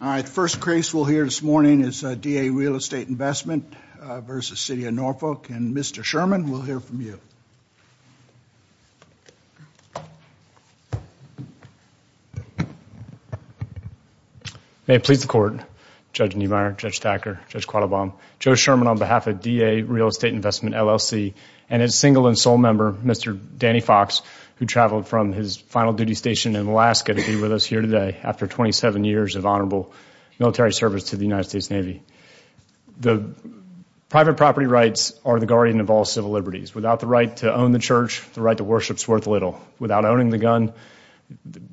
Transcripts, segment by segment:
All right, the first case we'll hear this morning is D.A. Realestate Investment v. City of Norfolk, and Mr. Sherman, we'll hear from you. May it please the Court, Judge Niemeyer, Judge Thacker, Judge Quattlebaum, Joe Sherman on behalf of D.A. Realestate Investment, LLC, and its single and sole member, Mr. Danny Fox, who traveled from his final duty station in Alaska to be with us here today after 27 years of honorable military service to the United States Navy. The private property rights are the guardian of all civil liberties. Without the right to own the church, the right to worship is worth little. Without owning the gun,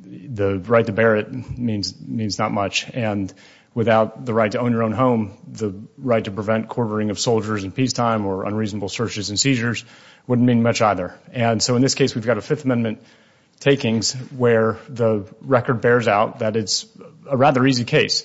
the right to bear it means not much, and without the right to own your own home, the right to prevent quartering of soldiers in peacetime or unreasonable searches and seizures wouldn't mean much either. And so in this case, we've got a Fifth Amendment takings where the record bears out that it's a rather easy case.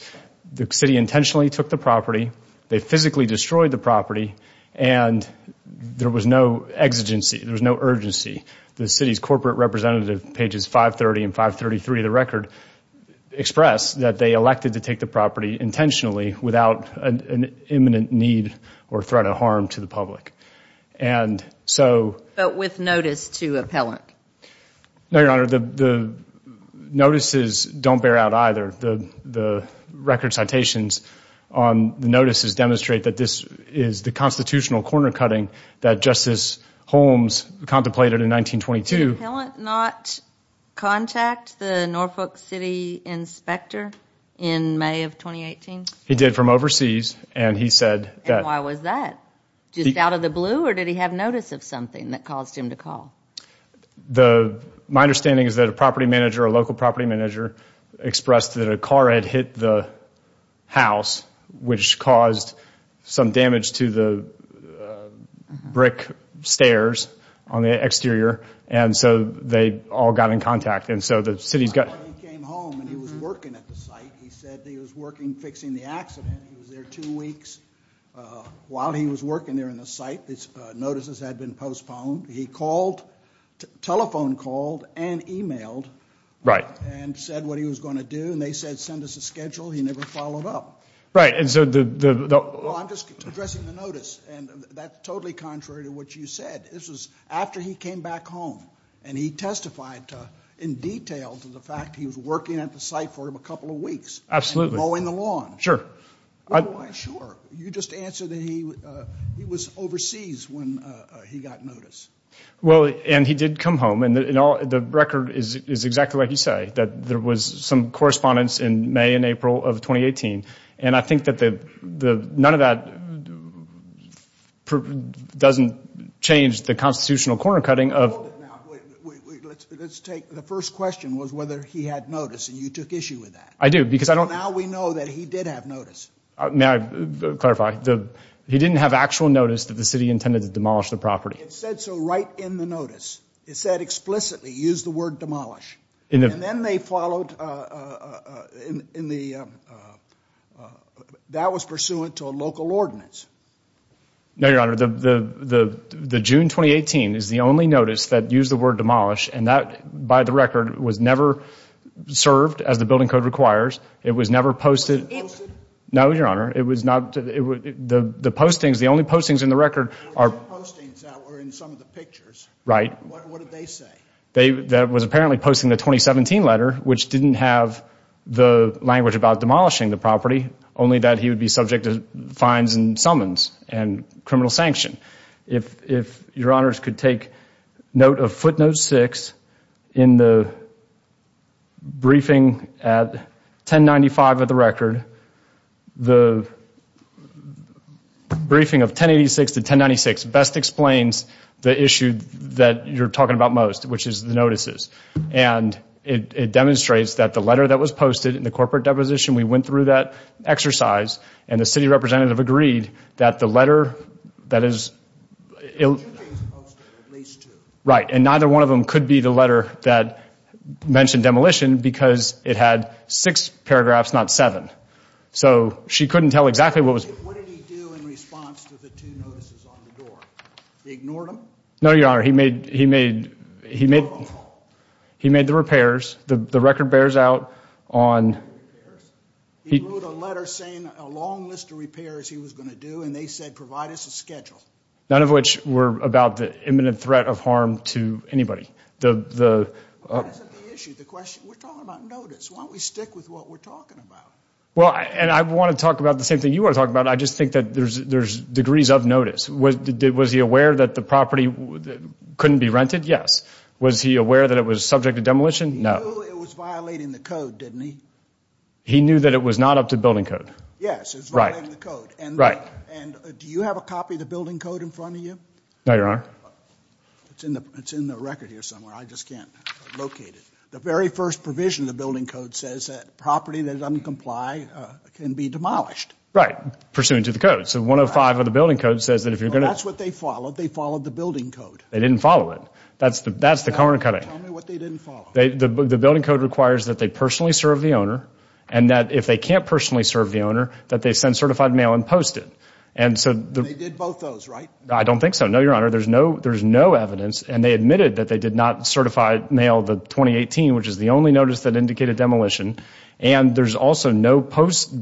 The city intentionally took the property, they physically destroyed the property, and there was no exigency, there was no urgency. The city's corporate representative, pages 530 and 533 of the record, express that they elected to take the property intentionally without an imminent need or threat of harm to the public. And so But with notice to appellant? No, Your Honor, the notices don't bear out either. The record citations on the notices demonstrate that this is the constitutional corner cutting that Justice Holmes contemplated in 1922. Did the appellant not contact the Norfolk City inspector in May of 2018? He did from overseas, and he said that And why was that? Just out of the blue, or did he have notice of something that caused him to call? My understanding is that a property manager, a local property manager, expressed that a car had hit the house, which caused some damage to the brick stairs on the exterior, and so they all got in contact. And so the city's got That's why he came home, and he was working at the site. He said that he was working fixing the accident. He was there two weeks. While he was working there in the site, his notices had been postponed. He called, telephone called, and emailed, and said what he was going to do, and they said send us a schedule. He never followed up. Right, and so the Well, I'm just addressing the notice, and that's totally contrary to what you said. This was after he came back home, and he testified in detail to the fact that he was working at the site for a couple of weeks, mowing the lawn. Sure. Why sure? You just answered that he was overseas when he got notice. Well, and he did come home, and the record is exactly what you say, that there was some correspondence in May and April of 2018, and I think that none of that doesn't change the constitutional corner-cutting of Now, wait, let's take the first question was whether he had notice, and you took issue with that. I do, because I don't Well, now we know that he did have notice. May I clarify? He didn't have actual notice that the city intended to demolish the property. It said so right in the notice. It said explicitly, use the word demolish, and then they followed in the, that was pursuant to a local ordinance. No, your honor, the June 2018 is the only notice that used the word demolish, and that by the record was never served as the building code requires. It was never posted. It wasn't posted? No, your honor, it was not, the postings, the only postings in the record are The only postings that were in some of the pictures, what did they say? That was apparently posting the 2017 letter, which didn't have the language about demolishing the property, only that he would be subject to fines and summons and criminal sanction. If your honors could take note of footnote six in the briefing at 1095 of the record, the briefing of 1086 to 1096 best explains the issue that you're talking about most, which is the notices, and it demonstrates that the letter that was posted in the corporate deposition, we went through that exercise and the city representative agreed that the letter that is, right, and neither one of them could be the letter that mentioned demolition because it had six paragraphs, not seven. So she couldn't tell exactly what was, no, your honor, he made, he made, he made, he made the repairs, the record bears out on, he wrote a letter saying a long list of repairs he was going to do, and they said provide us a schedule. None of which were about the imminent threat of harm to anybody. The issue, the question, we're talking about notice, why don't we stick with what we're talking about? Well, and I want to talk about the same thing you want to talk about, I just think that there's, there's degrees of notice. Was he aware that the property couldn't be rented? Yes. Was he aware that it was subject to demolition? No. He knew it was violating the code, didn't he? He knew that it was not up to building code. Yes. It was violating the code. Right. Right. And do you have a copy of the building code in front of you? No, your honor. It's in the, it's in the record here somewhere, I just can't locate it. The very first provision of the building code says that property that is uncomplied can be demolished. Right. Pursuant to the code. So 105 of the building code says that if you're going to. That's what they followed. They followed the building code. They didn't follow it. That's the, that's the corner cutting. Tell me what they didn't follow. The building code requires that they personally serve the owner and that if they can't personally serve the owner, that they send certified mail and post it. And so. They did both those, right? I don't think so. No, your honor. There's no, there's no evidence. And they admitted that they did not certify mail the 2018, which is the only notice that indicated demolition. And there's also no post.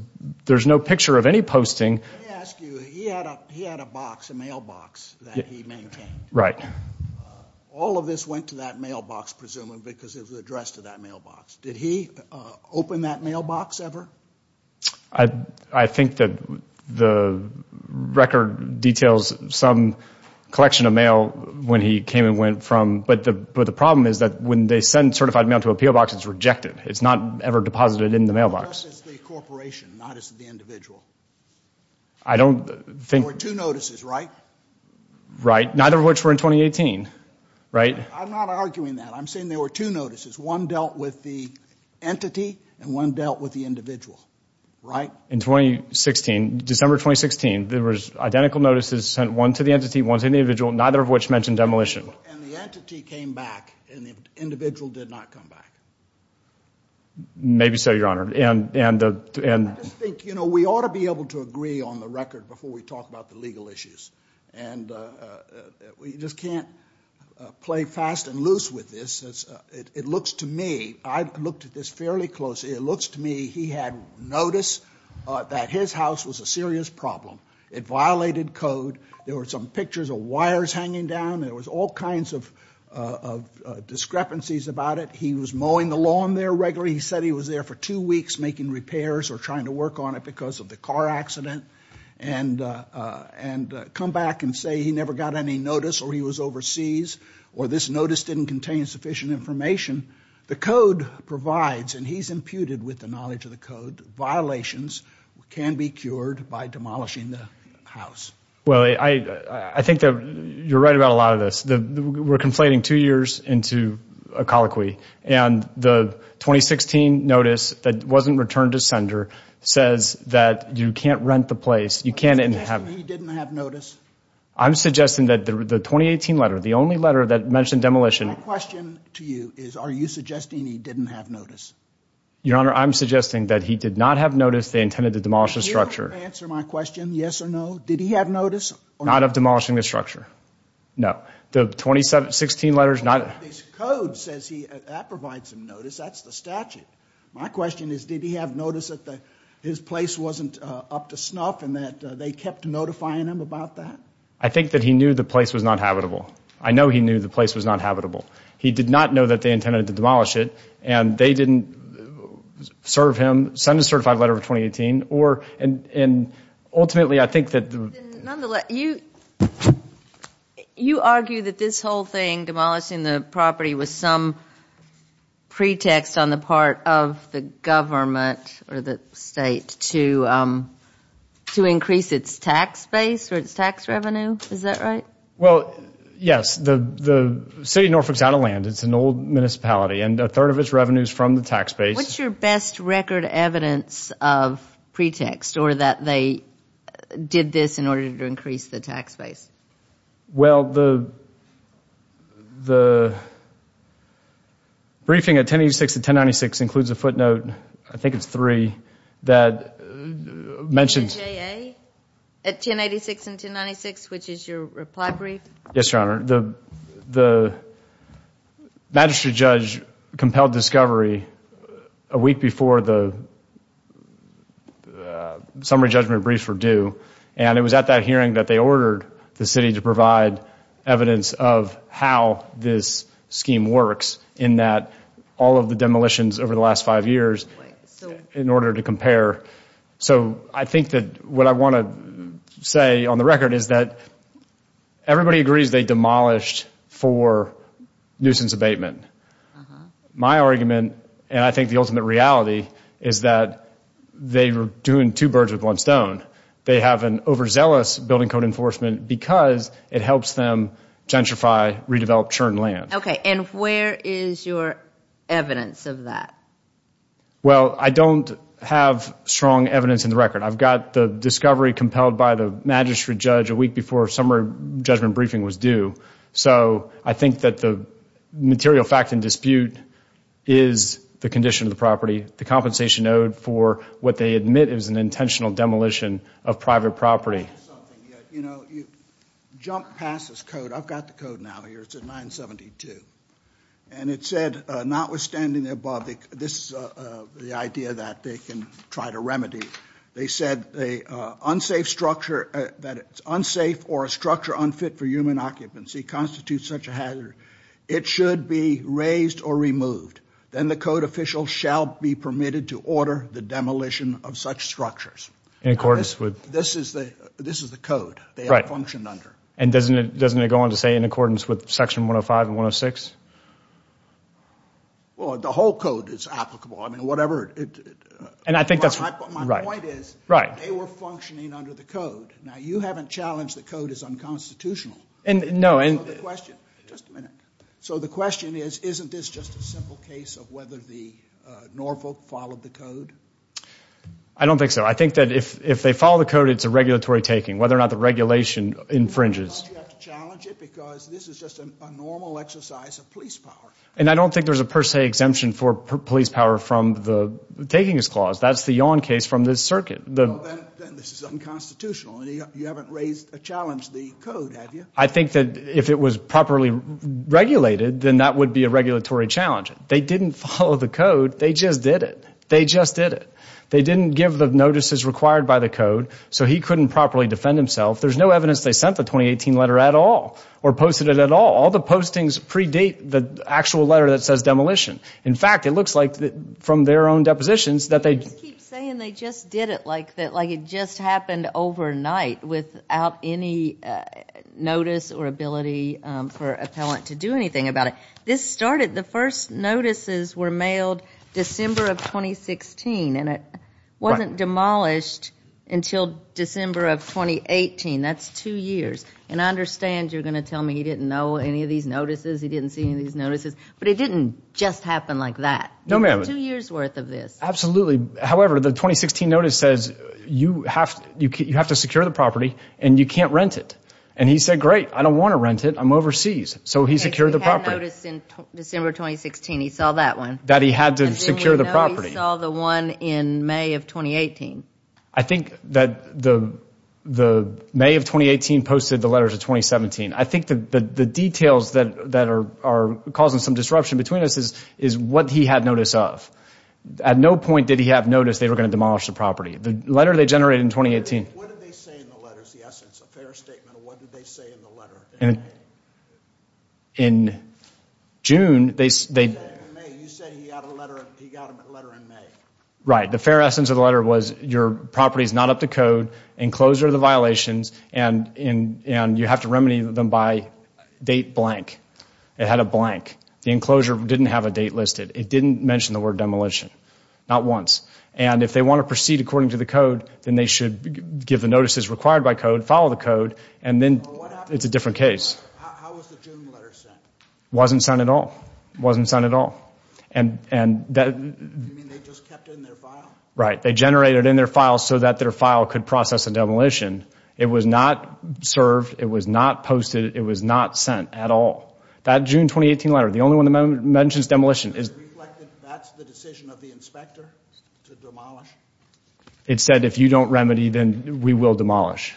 There's no picture of any posting. Let me ask you. He had a, he had a box, a mailbox that he maintained. Right. All of this went to that mailbox, presumably because it was addressed to that mailbox. Did he open that mailbox ever? I, I think that the record details some collection of mail when he came and went from. But the, but the problem is that when they send certified mail to a PO box, it's rejected. It's not ever deposited in the mailbox. It's the corporation, not as the individual. I don't think. There were two notices, right? Right. Neither of which were in 2018. Right. I'm not arguing that. I'm saying there were two notices. One dealt with the entity and one dealt with the individual. In 2016, December 2016, there was identical notices sent one to the entity, one to the individual. Neither of which mentioned demolition. And the entity came back and the individual did not come back. Maybe so, Your Honor. And, and, and. I just think, you know, we ought to be able to agree on the record before we talk about the legal issues. And we just can't play fast and loose with this. It looks to me, I looked at this fairly closely, it looks to me, he had notice that his house was a serious problem. It violated code. There were some pictures of wires hanging down. There was all kinds of discrepancies about it. He was mowing the lawn there regularly. He said he was there for two weeks making repairs or trying to work on it because of the car accident. And come back and say he never got any notice or he was overseas. Or this notice didn't contain sufficient information. The code provides, and he's imputed with the knowledge of the code, violations can be cured by demolishing the house. Well, I, I, I think that you're right about a lot of this. We're conflating two years into a colloquy. And the 2016 notice that wasn't returned to sender says that you can't rent the place. You can't. Are you suggesting he didn't have notice? I'm suggesting that the 2018 letter, the only letter that mentioned demolition. My question to you is, are you suggesting he didn't have notice? Your Honor, I'm suggesting that he did not have notice. They intended to demolish the structure. You don't have to answer my question, yes or no. Did he have notice? Not of demolishing the structure. No. The 2016 letters, not. His code says he, that provides him notice. That's the statute. My question is, did he have notice that the, his place wasn't up to snuff and that they kept notifying him about that? I think that he knew the place was not habitable. I know he knew the place was not habitable. He did not know that they intended to demolish it. And they didn't serve him, send a certified letter for 2018 or, and, and ultimately I think that the. Nonetheless, you, you argue that this whole thing, demolishing the property was some pretext on the part of the government or the state to, to increase its tax base or its tax revenue. Is that right? Well, yes. The, the city of Norfolk is out of land. It's an old municipality and a third of its revenue is from the tax base. What's your best record evidence of pretext or that they did this in order to increase the tax base? Well, the, the briefing at 1086 and 1096 includes a footnote, I think it's three, that mentioned. The J.A. at 1086 and 1096, which is your reply brief? Yes, Your Honor. The, the magistrate judge compelled discovery a week before the summary judgment briefs were due. And it was at that hearing that they ordered the city to provide evidence of how this scheme works in that all of the demolitions over the last five years in order to compare. So I think that what I want to say on the record is that everybody agrees they demolished for nuisance abatement. My argument, and I think the ultimate reality, is that they were doing two birds with one stone. They have an overzealous building code enforcement because it helps them gentrify, redevelop churned land. And where is your evidence of that? Well, I don't have strong evidence in the record. I've got the discovery compelled by the magistrate judge a week before summary judgment briefing was due. So I think that the material fact in dispute is the condition of the property, the compensation owed for what they admit is an intentional demolition of private property. You know, you jump past this code, I've got the code now here, it's at 972. And it said, notwithstanding the above, this is the idea that they can try to remedy. They said the unsafe structure, that it's unsafe or a structure unfit for human occupancy constitutes such a hazard. It should be raised or removed. Then the code official shall be permitted to order the demolition of such structures. This is the code they have functioned under. And doesn't it go on to say in accordance with section 105 and 106? The whole code is applicable. And I think that's right. My point is, they were functioning under the code. Now you haven't challenged the code as unconstitutional. So the question is, isn't this just a simple case of whether the Norfolk followed the code? I don't think so. I think that if they follow the code, it's a regulatory taking, whether or not the regulation infringes. You have to challenge it because this is just a normal exercise of police power. And I don't think there's a per se exemption for police power from the taking this clause. That's the Yawn case from this circuit. Then this is unconstitutional and you haven't raised a challenge to the code, have you? I think that if it was properly regulated, then that would be a regulatory challenge. They didn't follow the code. They just did it. They just did it. They didn't give the notices required by the code. So he couldn't properly defend himself. There's no evidence they sent the 2018 letter at all or posted it at all. All the postings predate the actual letter that says demolition. In fact, it looks like from their own depositions that they- Like it just happened overnight without any notice or ability for an appellant to do anything about it. This started, the first notices were mailed December of 2016 and it wasn't demolished until December of 2018. That's two years. And I understand you're going to tell me he didn't know any of these notices, he didn't see any of these notices, but it didn't just happen like that. No ma'am. Two years worth of this. Absolutely. However, the 2016 notice says you have to secure the property and you can't rent it. And he said, great, I don't want to rent it, I'm overseas. So he secured the property. He had a notice in December 2016, he saw that one. That he had to secure the property. As we know, he saw the one in May of 2018. I think that the May of 2018 posted the letters of 2017. I think the details that are causing some disruption between us is what he had notice of. At no point did he have notice they were going to demolish the property. The letter they generated in 2018. What did they say in the letters, the essence, a fair statement of what did they say in the letter in May? In June, they said. You said he got a letter in May. Right. The fair essence of the letter was your property is not up to code, enclosure of the violations and you have to remedy them by date blank. It had a blank. The enclosure didn't have a date listed. It didn't mention the word demolition. Not once. And if they want to proceed according to the code, then they should give the notices required by code, follow the code, and then it's a different case. How was the June letter sent? Wasn't sent at all. Wasn't sent at all. Do you mean they just kept it in their file? Right. They generated it in their file so that their file could process a demolition. It was not served. It was not posted. It was not sent at all. That June 2018 letter, the only one that mentions demolition, it said if you don't remedy, then we will demolish.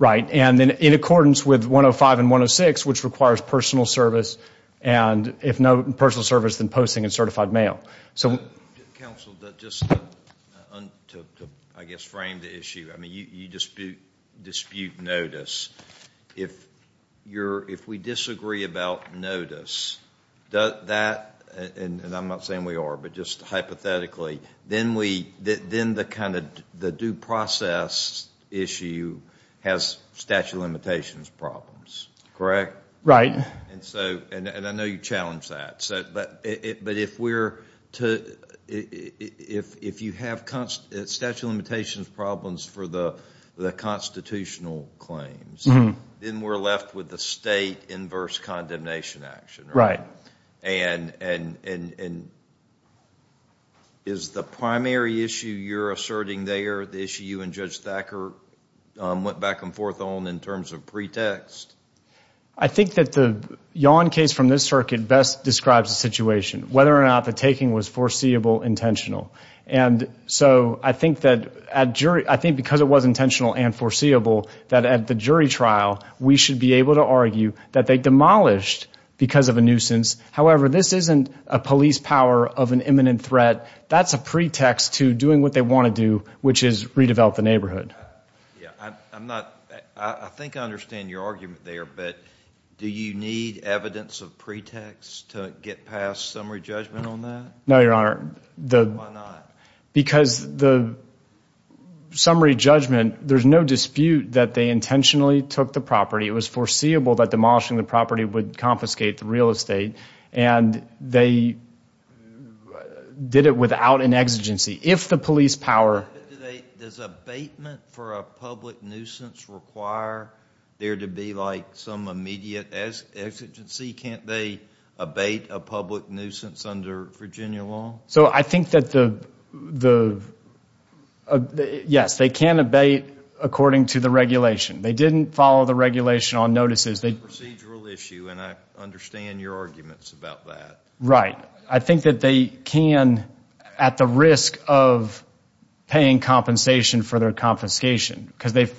And in accordance with 105 and 106, which requires personal service, and if no personal service, then posting in certified mail. Counsel, just to, I guess, frame the issue, you dispute notice. If we disagree about notice, and I'm not saying we are, but just hypothetically, then the due process issue has statute of limitations problems, correct? Right. And I know you challenge that. But if you have statute of limitations problems for the constitutional claims, then we're left with the state inverse condemnation action, right? Is the primary issue you're asserting there the issue you and Judge Thacker went back and forth on in terms of pretext? I think that the Yawn case from this circuit best describes the situation, whether or not the taking was foreseeable, intentional. And so I think because it was intentional and foreseeable, that at the jury trial, we should be able to argue that they demolished because of a nuisance. However, this isn't a police power of an imminent threat. That's a pretext to doing what they want to do, which is redevelop the neighborhood. Yeah, I'm not, I think I understand your argument there, but do you need evidence of pretext to get past summary judgment on that? No, Your Honor, because the summary judgment, there's no dispute that they intentionally took the property. It was foreseeable that demolishing the property would confiscate the real estate. And they did it without an exigency. Does abatement for a public nuisance require there to be like some immediate exigency? Can't they abate a public nuisance under Virginia law? So I think that the, yes, they can abate according to the regulation. They didn't follow the regulation on notices. It's a procedural issue, and I understand your arguments about that. Right. I think that they can, at the risk of paying compensation for their confiscation, because they've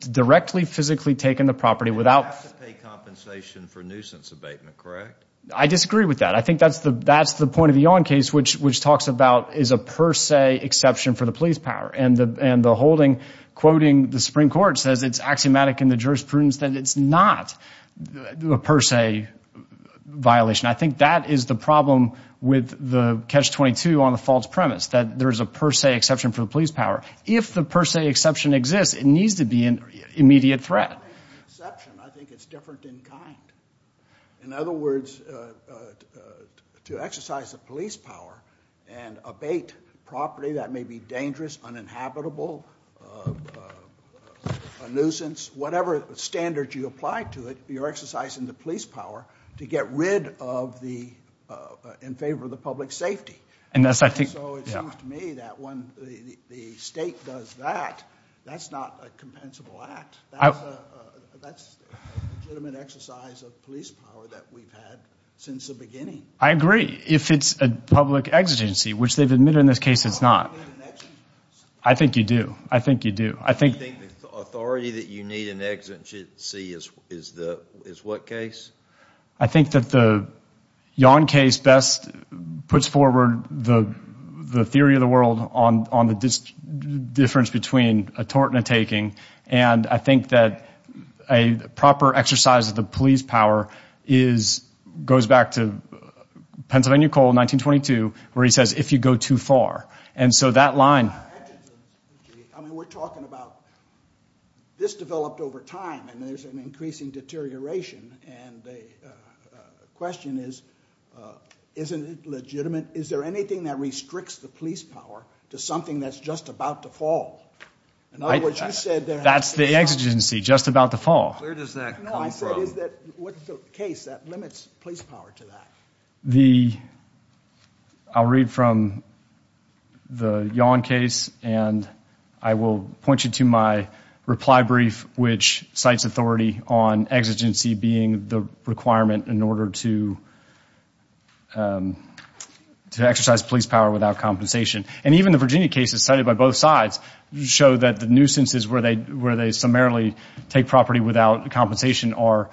directly, physically taken the property without... They have to pay compensation for nuisance abatement, correct? I disagree with that. I think that's the point of the Yawn case, which talks about is a per se exception for the police power. And the holding, quoting the Supreme Court, says it's axiomatic in the jurisprudence that it's not a per se violation. I think that is the problem with the Catch-22 on the false premise, that there's a per se exception for the police power. If the per se exception exists, it needs to be an immediate threat. I don't think it's an exception. I think it's different in kind. In other words, to exercise the police power and abate property that may be dangerous, uninhabitable, a nuisance, whatever standard you apply to it, you're exercising the police power to get rid of the... in favor of the public safety. And so it seems to me that when the state does that, that's not a compensable act. That's a legitimate exercise of police power that we've had since the beginning. I agree. If it's a public exigency, which they've admitted in this case it's not. I think you do. I think you do. Do you think the authority that you need in an exigency is what case? I think that the Yawn case best puts forward the theory of the world on the difference between a tort and a taking. And I think that a proper exercise of the police power is... goes back to Pennsylvania Coal 1922, where he says, if you go too far. And so that line... I mean, we're talking about... this developed over time, and there's an increasing deterioration. And the question is, isn't it legitimate? Is there anything that restricts the police power to something that's just about to fall? In other words, you said... That's the exigency, just about to fall. Where does that come from? No, I said is that... what's the case that limits police power to that? The... I'll read from the Yawn case, and I will point you to my reply brief, which cites authority on exigency being the requirement in order to exercise police power without compensation. And even the Virginia case is cited by both sides. You show that the nuisances where they summarily take property without compensation are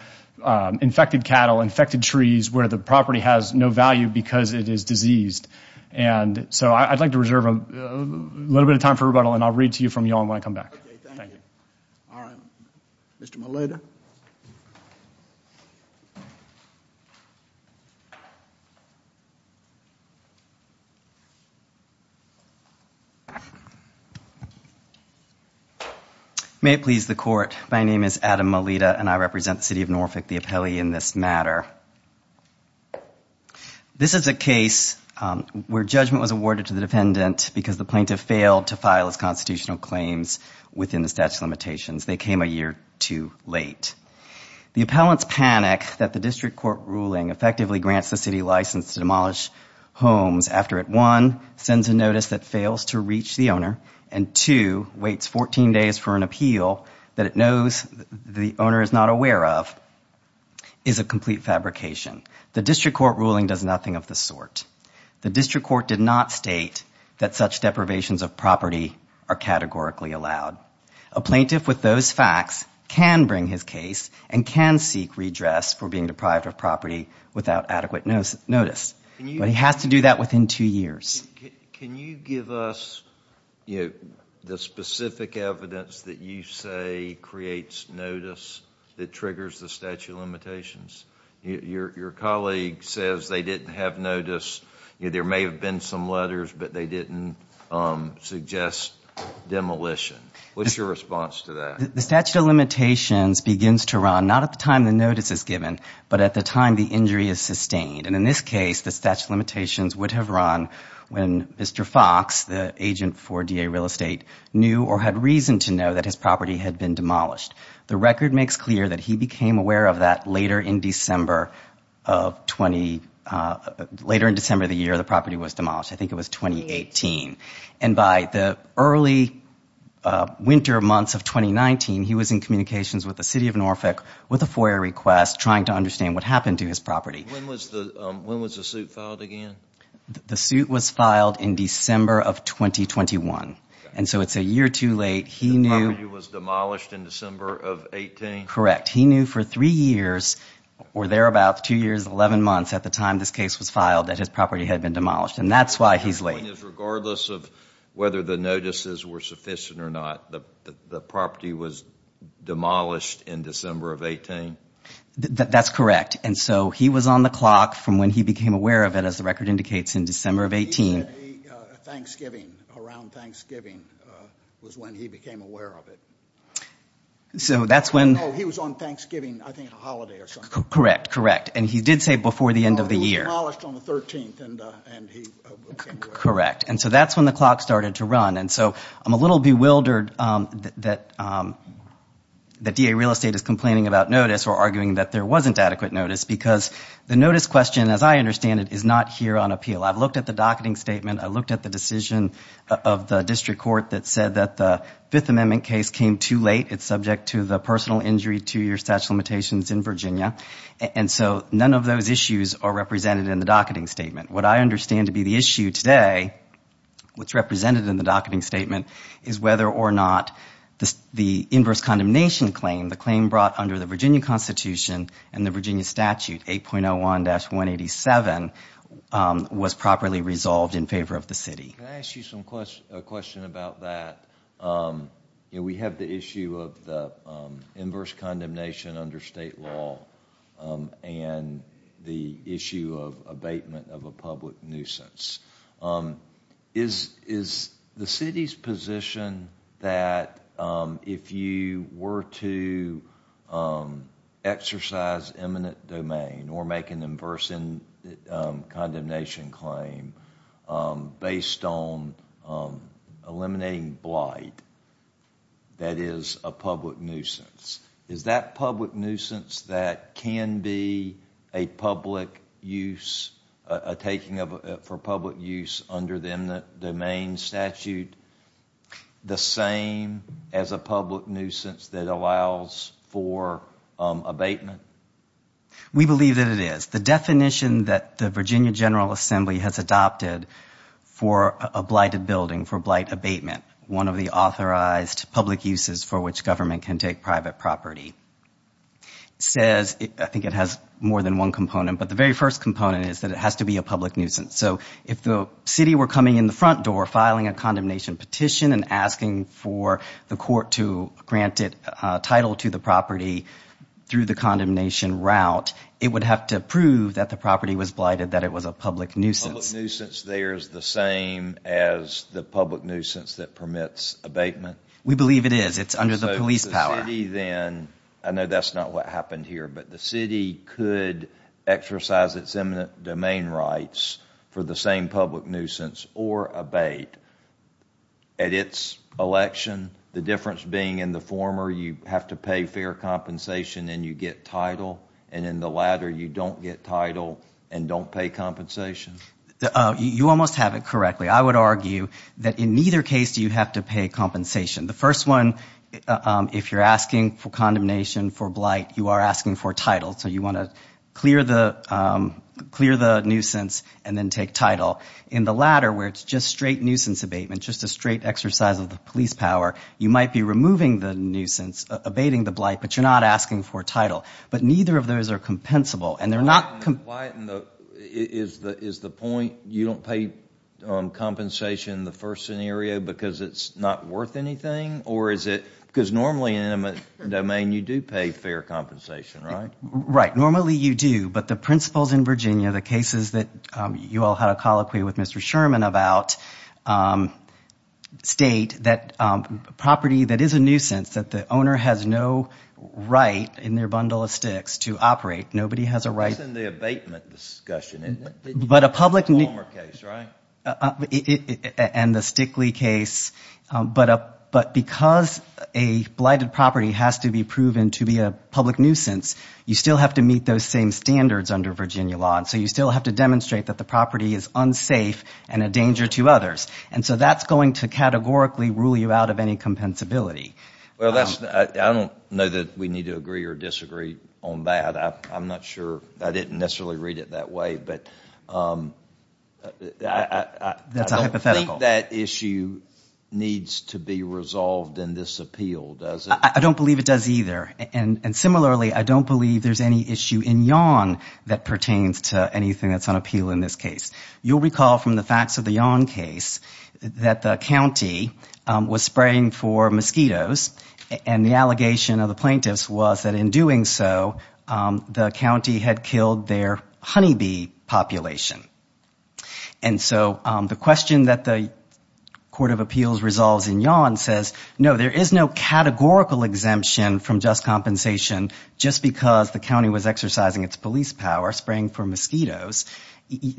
infected cattle, infected trees, where the property has no value because it is diseased. And so, I'd like to reserve a little bit of time for rebuttal, and I'll read to you from Yawn when I come back. Okay, thank you. All right. Mr. Melita? May it please the Court. My name is Adam Melita, and I represent the City of Norfolk, the appellee in this matter. This is a case where judgment was awarded to the defendant because the plaintiff failed to file his constitutional claims within the statute of limitations. They came a year too late. The appellant's panic that the district court ruling effectively grants the city license to demolish homes after it, one, sends a notice that fails to reach the owner, and two, waits 14 days for an appeal that it knows the owner is not aware of, is a complete fabrication. The district court ruling does nothing of the sort. The district court did not state that such deprivations of property are categorically allowed. A plaintiff with those facts can bring his case and can seek redress for being deprived of property without adequate notice. But he has to do that within two years. Can you give us the specific evidence that you say creates notice that triggers the statute of limitations? Your colleague says they didn't have notice. There may have been some letters, but they didn't suggest demolition. What's your response to that? The statute of limitations begins to run not at the time the notice is given, but at the time the injury is sustained. And in this case, the statute of limitations would have run when Mr. Fox, the agent for DA Real Estate, knew or had reason to know that his property had been demolished. The record makes clear that he became aware of that later in December of the year the property was demolished. I think it was 2018. And by the early winter months of 2019, he was in communications with the city of Norfolk with a FOIA request trying to understand what happened to his property. When was the suit filed again? The suit was filed in December of 2021. And so it's a year too late. His property was demolished in December of 2018? Correct. He knew for three years, or thereabout two years, 11 months at the time this case was filed, that his property had been demolished. And that's why he's late. Regardless of whether the notices were sufficient or not, the property was demolished in December of 2018? That's correct. And so he was on the clock from when he became aware of it, as the record indicates, in December of 2018. He said Thanksgiving, around Thanksgiving, was when he became aware of it. No, he was on Thanksgiving, I think, a holiday or something. Correct. Correct. And he did say before the end of the year. It was demolished on the 13th, and he came to it. Correct. And so that's when the clock started to run. And so I'm a little bewildered that DA Real Estate is complaining about notice or arguing that there wasn't adequate notice, because the notice question, as I understand it, is not here on appeal. I've looked at the docketing statement. I've looked at the decision of the district court that said that the Fifth Amendment case came too late. It's subject to the personal injury two-year statute of limitations in Virginia. And so none of those issues are represented in the docketing statement. What I understand to be the issue today, what's represented in the docketing statement, is whether or not the inverse condemnation claim, the claim brought under the Virginia Constitution and the Virginia statute, 8.01-187, was properly resolved in favor of the city. Can I ask you a question about that? We have the issue of the inverse condemnation under state law and the issue of abatement of a public nuisance. Is the city's position that if you were to exercise eminent domain or make an inverse condemnation claim based on eliminating blight, that is a public nuisance, is that public use under the eminent domain statute the same as a public nuisance that allows for abatement? We believe that it is. The definition that the Virginia General Assembly has adopted for a blighted building, for blight abatement, one of the authorized public uses for which government can take private property, says, I think it has more than one component, but the very first component is that it has to be a public nuisance. So if the city were coming in the front door, filing a condemnation petition and asking for the court to grant it title to the property through the condemnation route, it would have to prove that the property was blighted, that it was a public nuisance. Public nuisance there is the same as the public nuisance that permits abatement? We believe it is. It's under the police power. I know that's not what happened here, but the city could exercise its eminent domain rights for the same public nuisance or abate. At its election, the difference being in the former, you have to pay fair compensation and you get title, and in the latter, you don't get title and don't pay compensation? You almost have it correctly. I would argue that in neither case do you have to pay compensation. The first one, if you're asking for condemnation for blight, you are asking for title. So you want to clear the nuisance and then take title. In the latter, where it's just straight nuisance abatement, just a straight exercise of the police power, you might be removing the nuisance, abating the blight, but you're not asking for title. But neither of those are compensable. Is the point you don't pay compensation in the first scenario because it's not worth anything? Because normally in an eminent domain, you do pay fair compensation, right? Right. Normally you do, but the principles in Virginia, the cases that you all had a colloquy with Mr. Sherman about, state that property that is a nuisance, that the owner has no right in their bundle of sticks to operate. Nobody has a right. That's in the abatement discussion, isn't it? The former case, right? And the Stickley case. But because a blighted property has to be proven to be a public nuisance, you still have to meet those same standards under Virginia law. So you still have to demonstrate that the property is unsafe and a danger to others. So that's going to categorically rule you out of any compensability. I don't know that we need to agree or disagree on that. I'm not sure. I didn't necessarily read it that way. But I don't think that issue needs to be resolved in this appeal, does it? I don't believe it does either. And similarly, I don't believe there's any issue in Yon that pertains to anything that's on appeal in this case. You'll recall from the facts of the Yon case that the county was spraying for mosquitoes and the allegation of the plaintiffs was that in doing so, the county had killed their honeybee population. And so the question that the court of appeals resolves in Yon says, no, there is no categorical exemption from just compensation just because the county was exercising its police power spraying for mosquitoes.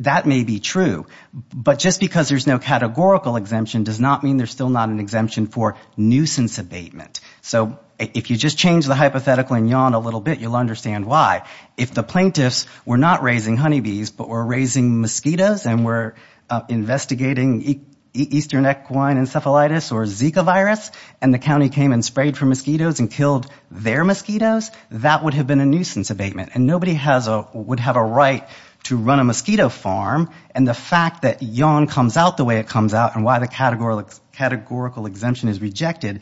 That may be true. But just because there's no categorical exemption does not mean there's still not an exemption for nuisance abatement. So if you just change the hypothetical in Yon a little bit, you'll understand why. If the plaintiffs were not raising honeybees but were raising mosquitoes and were investigating eastern equine encephalitis or Zika virus and the county came and sprayed for mosquitoes and killed their mosquitoes, that would have been a nuisance abatement. And nobody would have a right to run a mosquito farm. And the fact that Yon comes out the way it comes out and why the categorical exemption is rejected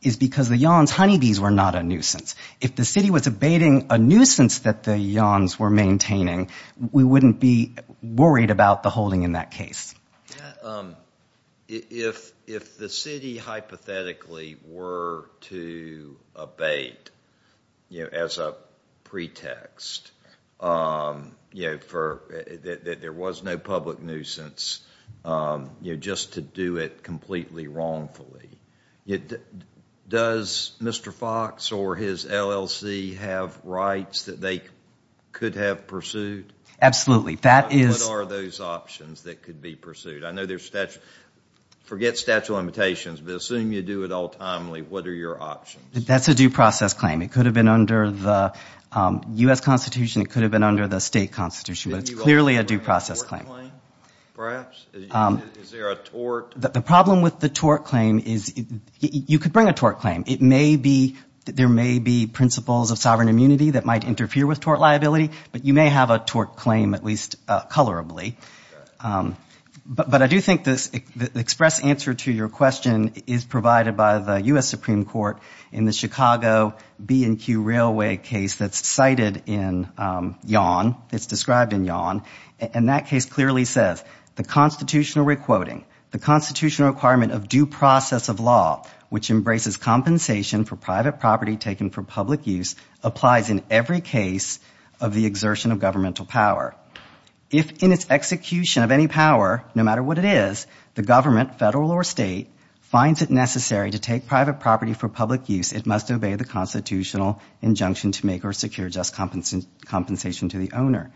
is because the Yon's honeybees were not a nuisance. If the city was abating a nuisance that the Yon's were maintaining, we wouldn't be worried about the holding in that case. If the city hypothetically were to abate as a pretext that there was no public nuisance just to do it completely wrongfully, does Mr. Fox or his LLC have rights that they could have pursued? Absolutely. What are those options that could be pursued? I know there's statute. Forget statute of limitations, but assume you do it all timely, what are your options? That's a due process claim. It could have been under the U.S. Constitution. It could have been under the state constitution. But it's clearly a due process claim. Is there a tort claim perhaps? Is there a tort? The problem with the tort claim is you could bring a tort claim. There may be principles of sovereign immunity that might interfere with tort liability, but you may have a tort claim, at least colorably. But I do think the express answer to your question is provided by the U.S. Supreme Court in the Chicago B&Q Railway case that's cited in Yon. It's described in Yon. And that case clearly says, the constitutional requoting, the constitutional requirement of due process of law, which embraces compensation for private property taken for public use, applies in every case of the exertion of governmental power. If in its execution of any power, no matter what it is, the government, federal or state, finds it necessary to take private property for public use, it must obey the constitutional injunction to make or secure just compensation to the owner.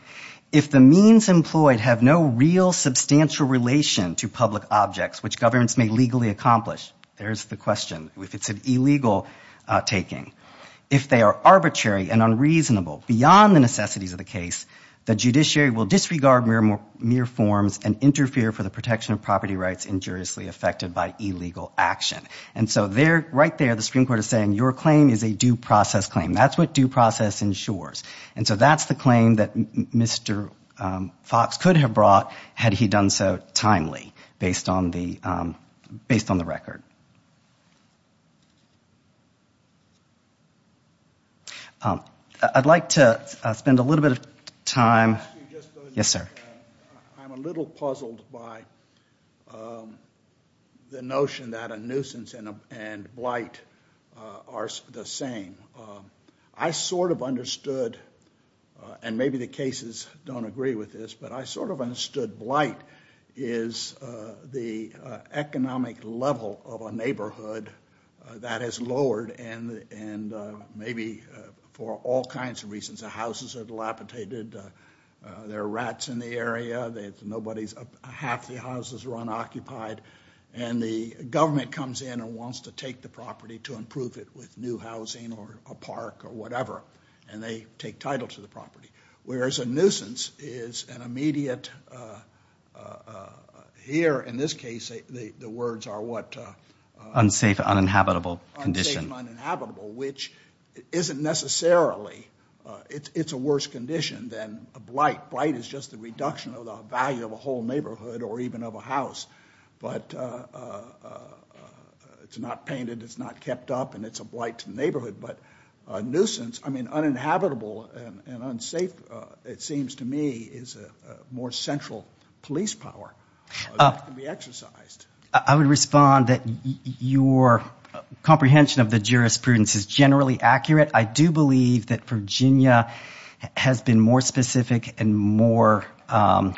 If the means employed have no real substantial relation to public objects, which governments may legally accomplish, there's the question. If it's an illegal taking. If they are arbitrary and unreasonable beyond the necessities of the case, the judiciary will disregard mere forms and interfere for the protection of property rights injuriously affected by illegal action. And so right there, the Supreme Court is saying, your claim is a due process claim. That's what due process ensures. And so that's the claim that Mr. Fox could have brought had he done so timely, based on the record. I'd like to spend a little bit of time. Yes, sir. I'm a little puzzled by the notion that a nuisance and blight are the same. I sort of understood, and maybe the cases don't agree with this, but I sort of understood blight is the economic level of a neighborhood that is lowered and maybe for all kinds of reasons. The houses are dilapidated. There are rats in the area. Half the houses are unoccupied. And the government comes in and wants to take the property to improve it with new housing or a park or whatever, and they take title to the property. Whereas a nuisance is an immediate, here in this case, the words are what? Unsafe, uninhabitable condition. Unsafe, uninhabitable, which isn't necessarily, it's a worse condition than a blight. Blight is just a reduction of the value of a whole neighborhood or even of a house, but it's not painted, it's not kept up, and it's a blight to the neighborhood. But a nuisance, I mean, uninhabitable and unsafe, it seems to me, is a more central police power that can be exercised. I would respond that your comprehension of the jurisprudence is generally accurate. I do believe that Virginia has been more specific and more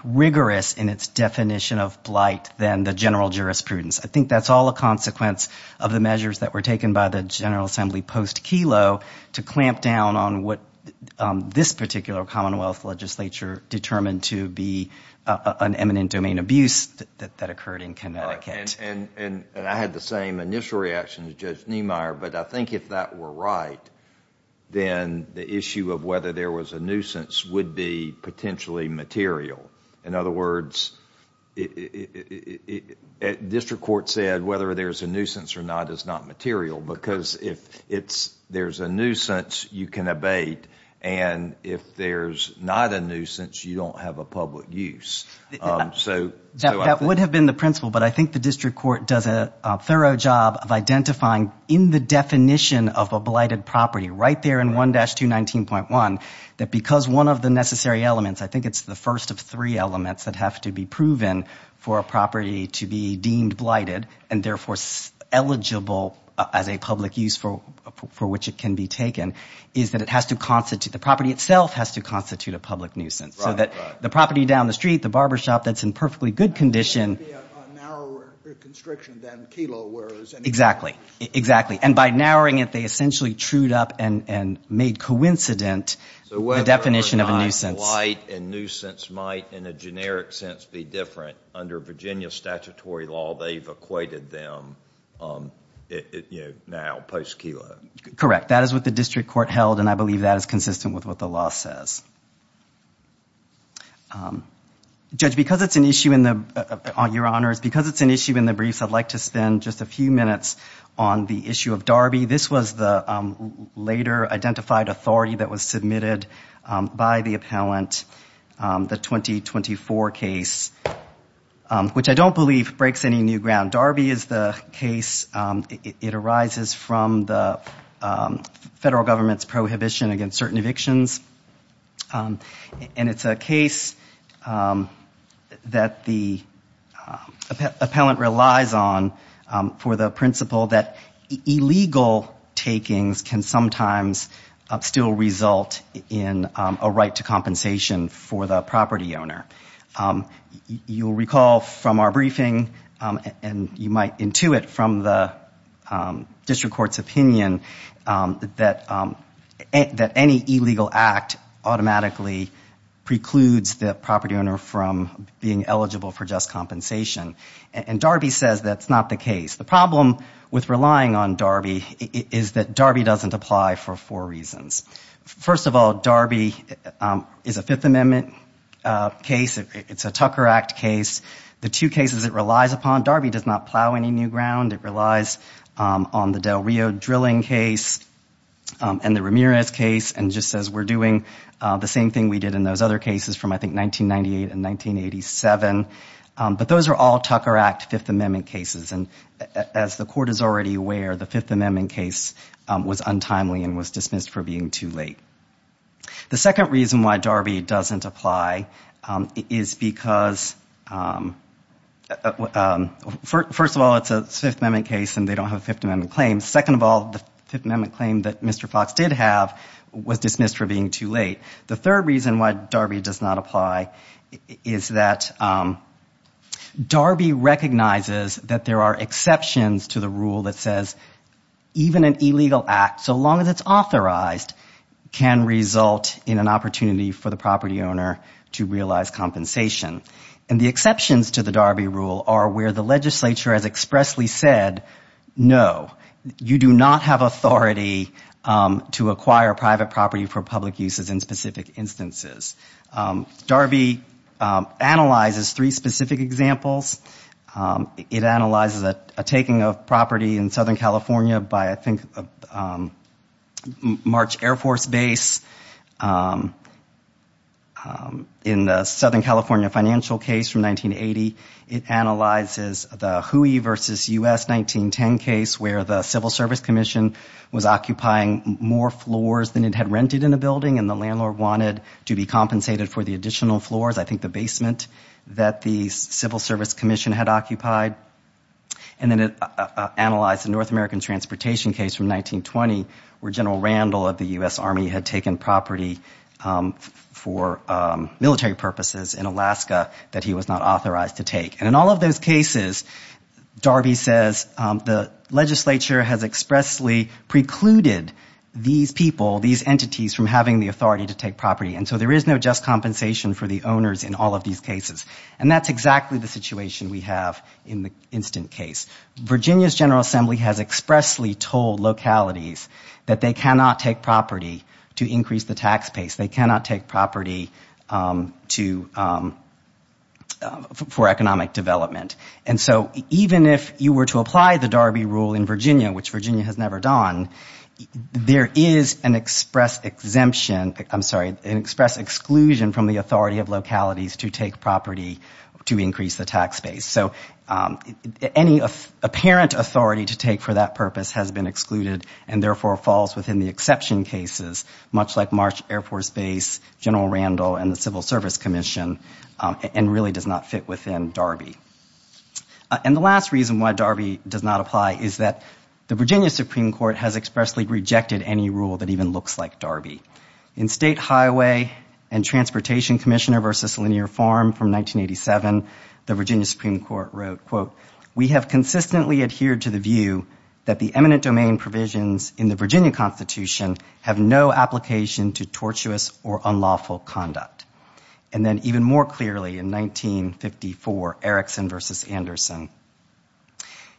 rigorous in its definition of blight than the general jurisprudence. I think that's all a consequence of the measures that were taken by the General Assembly post-Kelo to clamp down on what this particular Commonwealth legislature determined to be an eminent domain abuse that occurred in Connecticut. I had the same initial reaction as Judge Niemeyer, but I think if that were right, then the issue of whether there was a nuisance would be potentially material. In other words, district court said whether there's a nuisance or not is not material, because if there's a nuisance, you can abate, and if there's not a nuisance, you don't have a public use. That would have been the principle, but I think the district court does a thorough job of identifying, in the definition of a blighted property right there in 1-219.1, that because one of the necessary elements, I think it's the first of three elements that have to be proven for a property to be deemed blighted and therefore eligible as a public use for which it can be taken, is that the property itself has to constitute a public nuisance. So that the property down the street, the barbershop that's in perfectly good condition... It would be a narrower constriction than Kelo, where it was... Exactly. And by narrowing it, they essentially trued up and made coincident the definition of a nuisance. So whether or not blight and nuisance might, in a generic sense, be different, under Virginia statutory law, they've equated them now, post-Kelo. Correct. That is what the district court held, and I believe that is consistent with what the law says. Judge, because it's an issue on your honors, because it's an issue in the briefs, I'd like to spend just a few minutes on the issue of Darby. This was the later identified authority that was submitted by the appellant, the 2024 case, which I don't believe breaks any new ground. Darby is the case. It arises from the federal government's prohibition against certain evictions. And it's a case that the appellant relies on for the principle that illegal takings can sometimes still result in a right to compensation for the property owner. You'll recall from our briefing, and you might intuit from the district court's opinion, that any illegal act automatically precludes the property owner from being eligible for just compensation. And Darby says that's not the case. The problem with relying on Darby is that Darby doesn't apply for four reasons. First of all, Darby is a Fifth Amendment case. It's a Tucker Act case. The two cases it relies upon, Darby does not plow any new ground. It relies on the Del Rio drilling case and the Ramirez case, and just says we're doing the same thing we did in those other cases from, I think, 1998 and 1987. But those are all Tucker Act Fifth Amendment cases. And as the court is already aware, the Fifth Amendment case was untimely and was dismissed for being too late. The second reason why Darby doesn't apply is because, first of all, it's a Fifth Amendment case and they don't have Fifth Amendment claims. Second of all, the Fifth Amendment claim that Mr. Fox did have was dismissed for being too late. The third reason why Darby does not apply is that Darby recognizes that there are exceptions to the rule that says even an illegal act, so long as it's authorized, can result in an opportunity for the property owner to realize compensation. And the exceptions to the Darby rule are where the legislature has expressly said, no, you do not have authority to acquire private property for public uses in specific instances. Darby analyzes three specific examples. It analyzes a taking of property in Southern California by, I think, a March Air Force base in the Southern California financial case from 1980. It analyzes the Huey versus U.S. 1910 case where the Civil Service Commission was occupying more floors than it had rented in a building and the landlord wanted to be compensated for the additional floors, I think the basement, that the Civil Service Commission had occupied. And then it analyzed the North American transportation case from 1920 where General Randall of the U.S. Army had taken property for military purposes in Alaska that he was not authorized to take. And in all of those cases, Darby says, the legislature has expressly precluded these people, these entities, from having the authority to take property. And so there is no just compensation for the owners in all of these cases. And that's exactly the situation we have in the instant case. Virginia's General Assembly has expressly told localities that they cannot take property to increase the tax base. They cannot take property for economic development. And so even if you were to apply the Darby Rule in Virginia, which Virginia has never done, there is an express exemption, I'm sorry, an express exclusion from the authority of localities to take property to increase the tax base. So any apparent authority to take for that purpose has been excluded and therefore falls within the exception cases, much like Marsh Air Force Base, General Randall, and the Civil Service Commission, and really does not fit within Darby. And the last reason why Darby does not apply is that the Virginia Supreme Court has expressly rejected any rule that even looks like Darby. In State Highway and Transportation Commissioner v. Linear Farm from 1987, the Virginia Supreme Court wrote, quote, we have consistently adhered to the view that the eminent domain provisions in the Virginia Constitution have no application to tortuous or unlawful conduct. And then even more clearly in 1954, Erickson v. Anderson,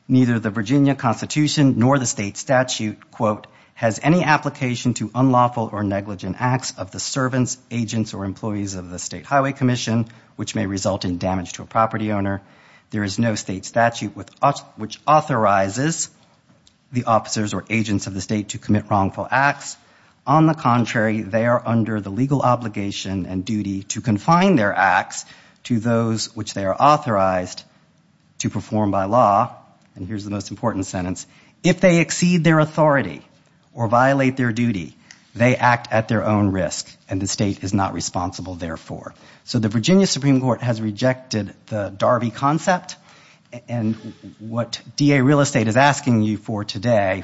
Neither the Virginia Constitution nor the state statute, quote, has any application to unlawful or negligent acts of the servants, agents, or employees of the State Highway Commission, which may result in damage to a property owner. There is no state statute which authorizes the officers or agents of the state to commit wrongful acts. On the contrary, they are under the legal obligation and duty to confine their acts to those which they are authorized to perform by law. And here's the most important sentence. If they exceed their authority or violate their duty, they act at their own risk, and the state is not responsible therefore. So the Virginia Supreme Court has rejected the Darby concept. And what DA Real Estate is asking you for today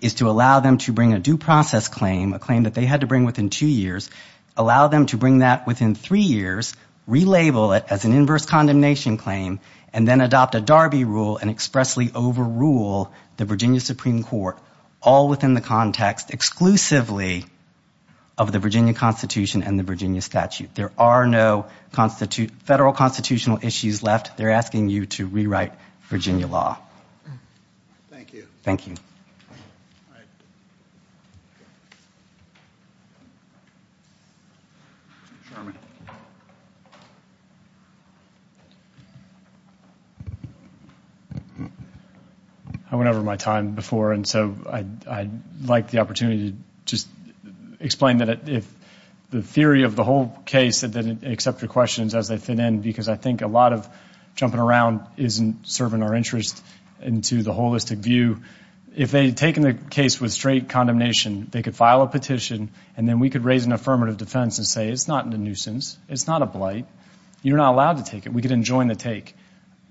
is to allow them to bring a due process claim, a claim that they had to bring within two years, allow them to bring that within three years, relabel it as an inverse condemnation claim, and then adopt a Darby rule and expressly overrule the Virginia Supreme Court, all within the context exclusively of the Virginia Constitution and the Virginia statute. There are no federal constitutional issues left. They're asking you to rewrite Virginia law. Thank you. Thank you. I went over my time before, and so I'd like the opportunity to just explain that if the theory of the whole case as they fit in because I think a lot of jumping around isn't serving our interest into the holistic view. If they had taken the case with straight condemnation, they could file a petition, and then we could raise an affirmative defense and say it's not a nuisance, it's not a blight, you're not allowed to take it. We could enjoin the take,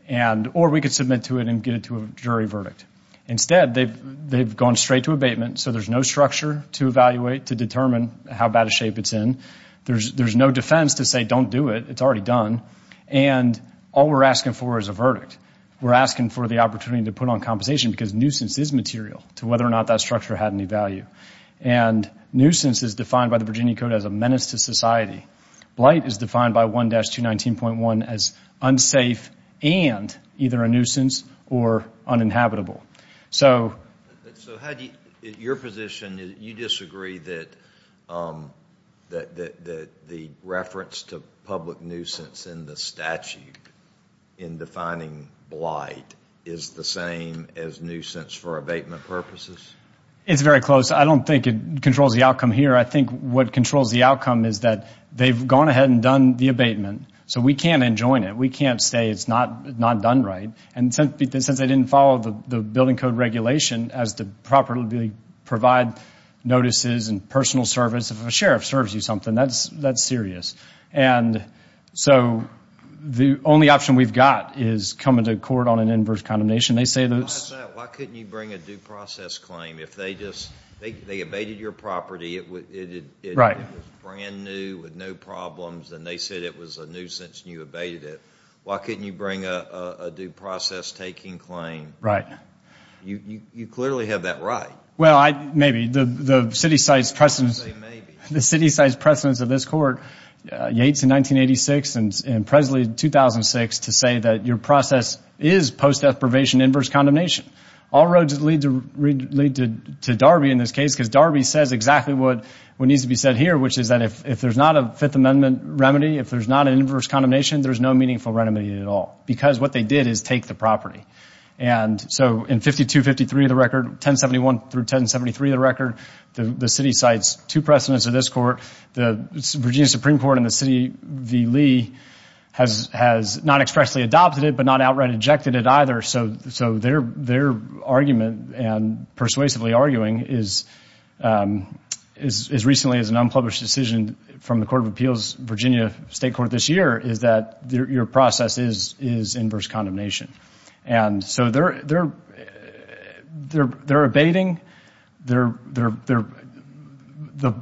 or we could submit to it and get it to a jury verdict. Instead, they've gone straight to abatement, so there's no structure to evaluate to determine how bad a shape it's in. There's no defense to say don't do it. It's already done, and all we're asking for is a verdict. We're asking for the opportunity to put on compensation because nuisance is material to whether or not that structure had any value. And nuisance is defined by the Virginia Code as a menace to society. Blight is defined by 1-219.1 as unsafe and either a nuisance or uninhabitable. So your position is you disagree that the reference to public nuisance in the statute in defining blight is the same as nuisance for abatement purposes? It's very close. I don't think it controls the outcome here. I think what controls the outcome is that they've gone ahead and done the abatement, so we can't enjoin it. We can't say it's not done right. And since they didn't follow the building code regulation as to properly provide notices and personal service, if a sheriff serves you something, that's serious. And so the only option we've got is coming to court on an inverse condemnation. Why couldn't you bring a due process claim? If they abated your property, it was brand new with no problems, and they said it was a nuisance and you abated it. Why couldn't you bring a due process taking claim? You clearly have that right. Well, maybe. The city site's precedence of this court, Yates in 1986 and Presley in 2006, to say that your process is post-death probation inverse condemnation. All roads lead to Darby in this case because Darby says exactly what needs to be said here, which is that if there's not a Fifth Amendment remedy, if there's not an inverse condemnation, there's no meaningful remedy at all because what they did is take the property. And so in 52-53 of the record, 1071 through 1073 of the record, the city cites two precedents of this court. The Virginia Supreme Court and the city v. Lee has not expressly adopted it but not outright ejected it either. So their argument and persuasively arguing as recently as an unpublished decision from the Court of Appeals Virginia State Court this year is that your process is inverse condemnation. And so they're abating. The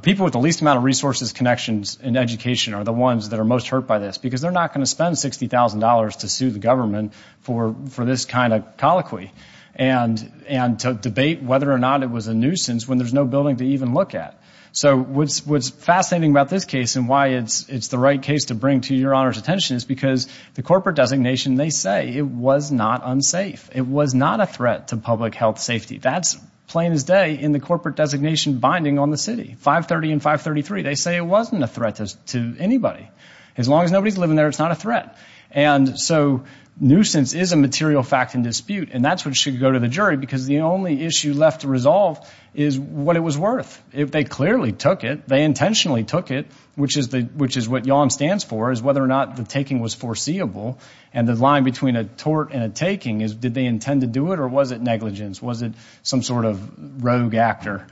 people with the least amount of resources, connections, and education are the ones that are most hurt by this because they're not going to spend $60,000 to sue the government for this kind of colloquy and to debate whether or not it was a nuisance when there's no building to even look at. So what's fascinating about this case and why it's the right case to bring to your Honor's attention is because the corporate designation, they say it was not unsafe. It was not a threat to public health safety. That's plain as day in the corporate designation binding on the city. 530 and 533, they say it wasn't a threat to anybody. As long as nobody's living there, it's not a threat. And so nuisance is a material fact and dispute, and that's what should go to the jury because the only issue left to resolve is what it was worth. If they clearly took it, they intentionally took it, which is what YON stands for, is whether or not the taking was foreseeable. And the line between a tort and a taking is did they intend to do it or was it negligence? Was it some sort of rogue actor?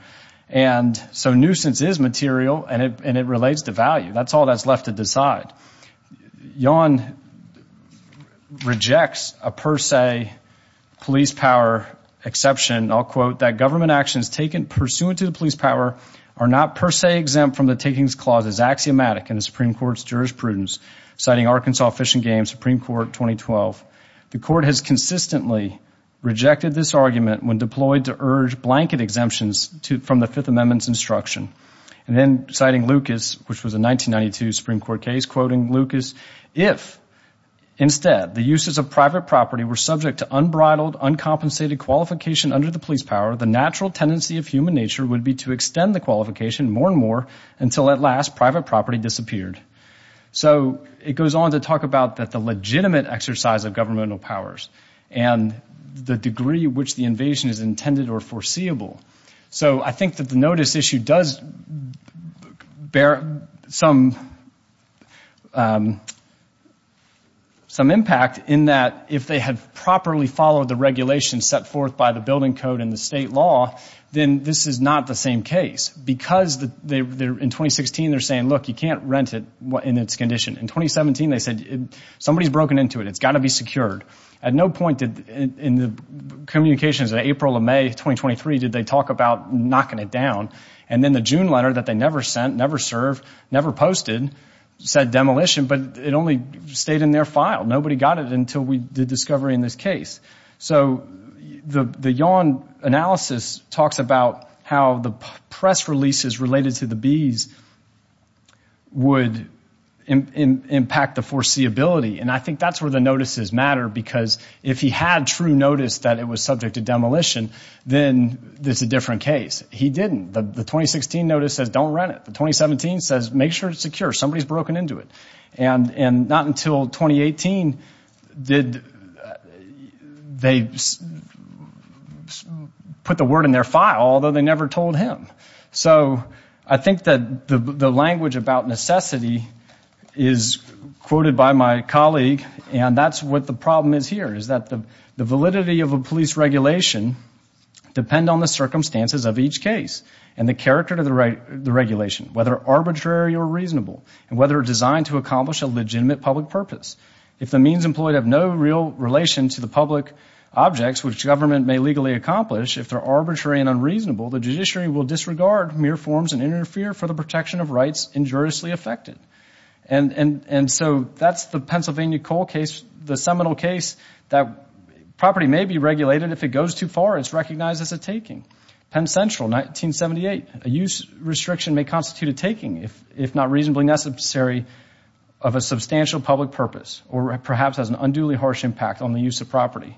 And so nuisance is material, and it relates to value. That's all that's left to decide. YON rejects a per se police power exception. I'll quote, that government actions taken pursuant to the police power are not per se exempt from the takings clause as axiomatic in the Supreme Court's jurisprudence. Citing Arkansas Fish and Game, Supreme Court, 2012, the court has consistently rejected this argument when deployed to urge blanket exemptions from the Fifth Amendment's instruction. And then citing Lucas, which was a 1992 Supreme Court case, quoting Lucas, if instead the uses of private property were subject to unbridled, uncompensated qualification under the police power, the natural tendency of human nature would be to extend the qualification more and more until at last private property disappeared. So it goes on to talk about the legitimate exercise of governmental powers and the degree which the invasion is intended or foreseeable. So I think that the notice issue does bear some impact in that if they had properly followed the regulations set forth by the building code and the state law, then this is not the same case. Because in 2016 they're saying, look, you can't rent it in its condition. In 2017 they said, somebody's broken into it. It's got to be secured. At no point in the communications in April or May 2023 did they talk about knocking it down. And then the June letter that they never sent, never served, never posted said demolition, but it only stayed in their file. Nobody got it until we did discovery in this case. So the Yawn analysis talks about how the press releases related to the bees would impact the foreseeability. And I think that's where the notices matter, because if he had true notice that it was subject to demolition, then it's a different case. He didn't. The 2016 notice says don't rent it. The 2017 says make sure it's secure. Somebody's broken into it. And not until 2018 did they put the word in their file, although they never told him. So I think that the language about necessity is quoted by my colleague, and that's what the problem is here is that the validity of a police regulation depend on the circumstances of each case and the character to the regulation, whether arbitrary or reasonable, and whether designed to accomplish a legitimate public purpose. If the means employed have no real relation to the public objects which government may legally accomplish, if they're arbitrary and unreasonable, the judiciary will disregard mere forms and interfere for the protection of rights injuriously affected. And so that's the Pennsylvania coal case, the seminal case that property may be regulated. If it goes too far, it's recognized as a taking. Penn Central, 1978, a use restriction may constitute a taking, if not reasonably necessary, of a substantial public purpose or perhaps has an unduly harsh impact on the use of property.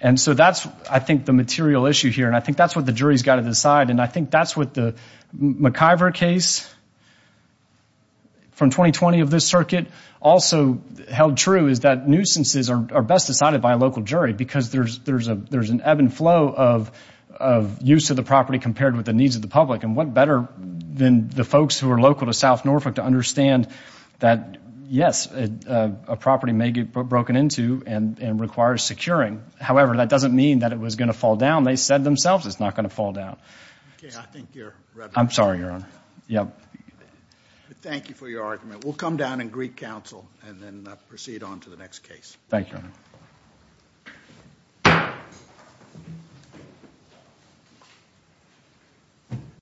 And so that's, I think, the material issue here, and I think that's what the jury's got to decide, and I think that's what the McIver case from 2020 of this circuit also held true is that nuisances are best decided by a local jury because there's an ebb and flow of use of the property compared with the needs of the public. And what better than the folks who are local to South Norfolk to understand that, yes, a property may get broken into and requires securing. However, that doesn't mean that it was going to fall down. They said themselves it's not going to fall down. I'm sorry, Your Honor. Thank you for your argument. We'll come down and greet counsel and then proceed on to the next case. Thank you, Your Honor.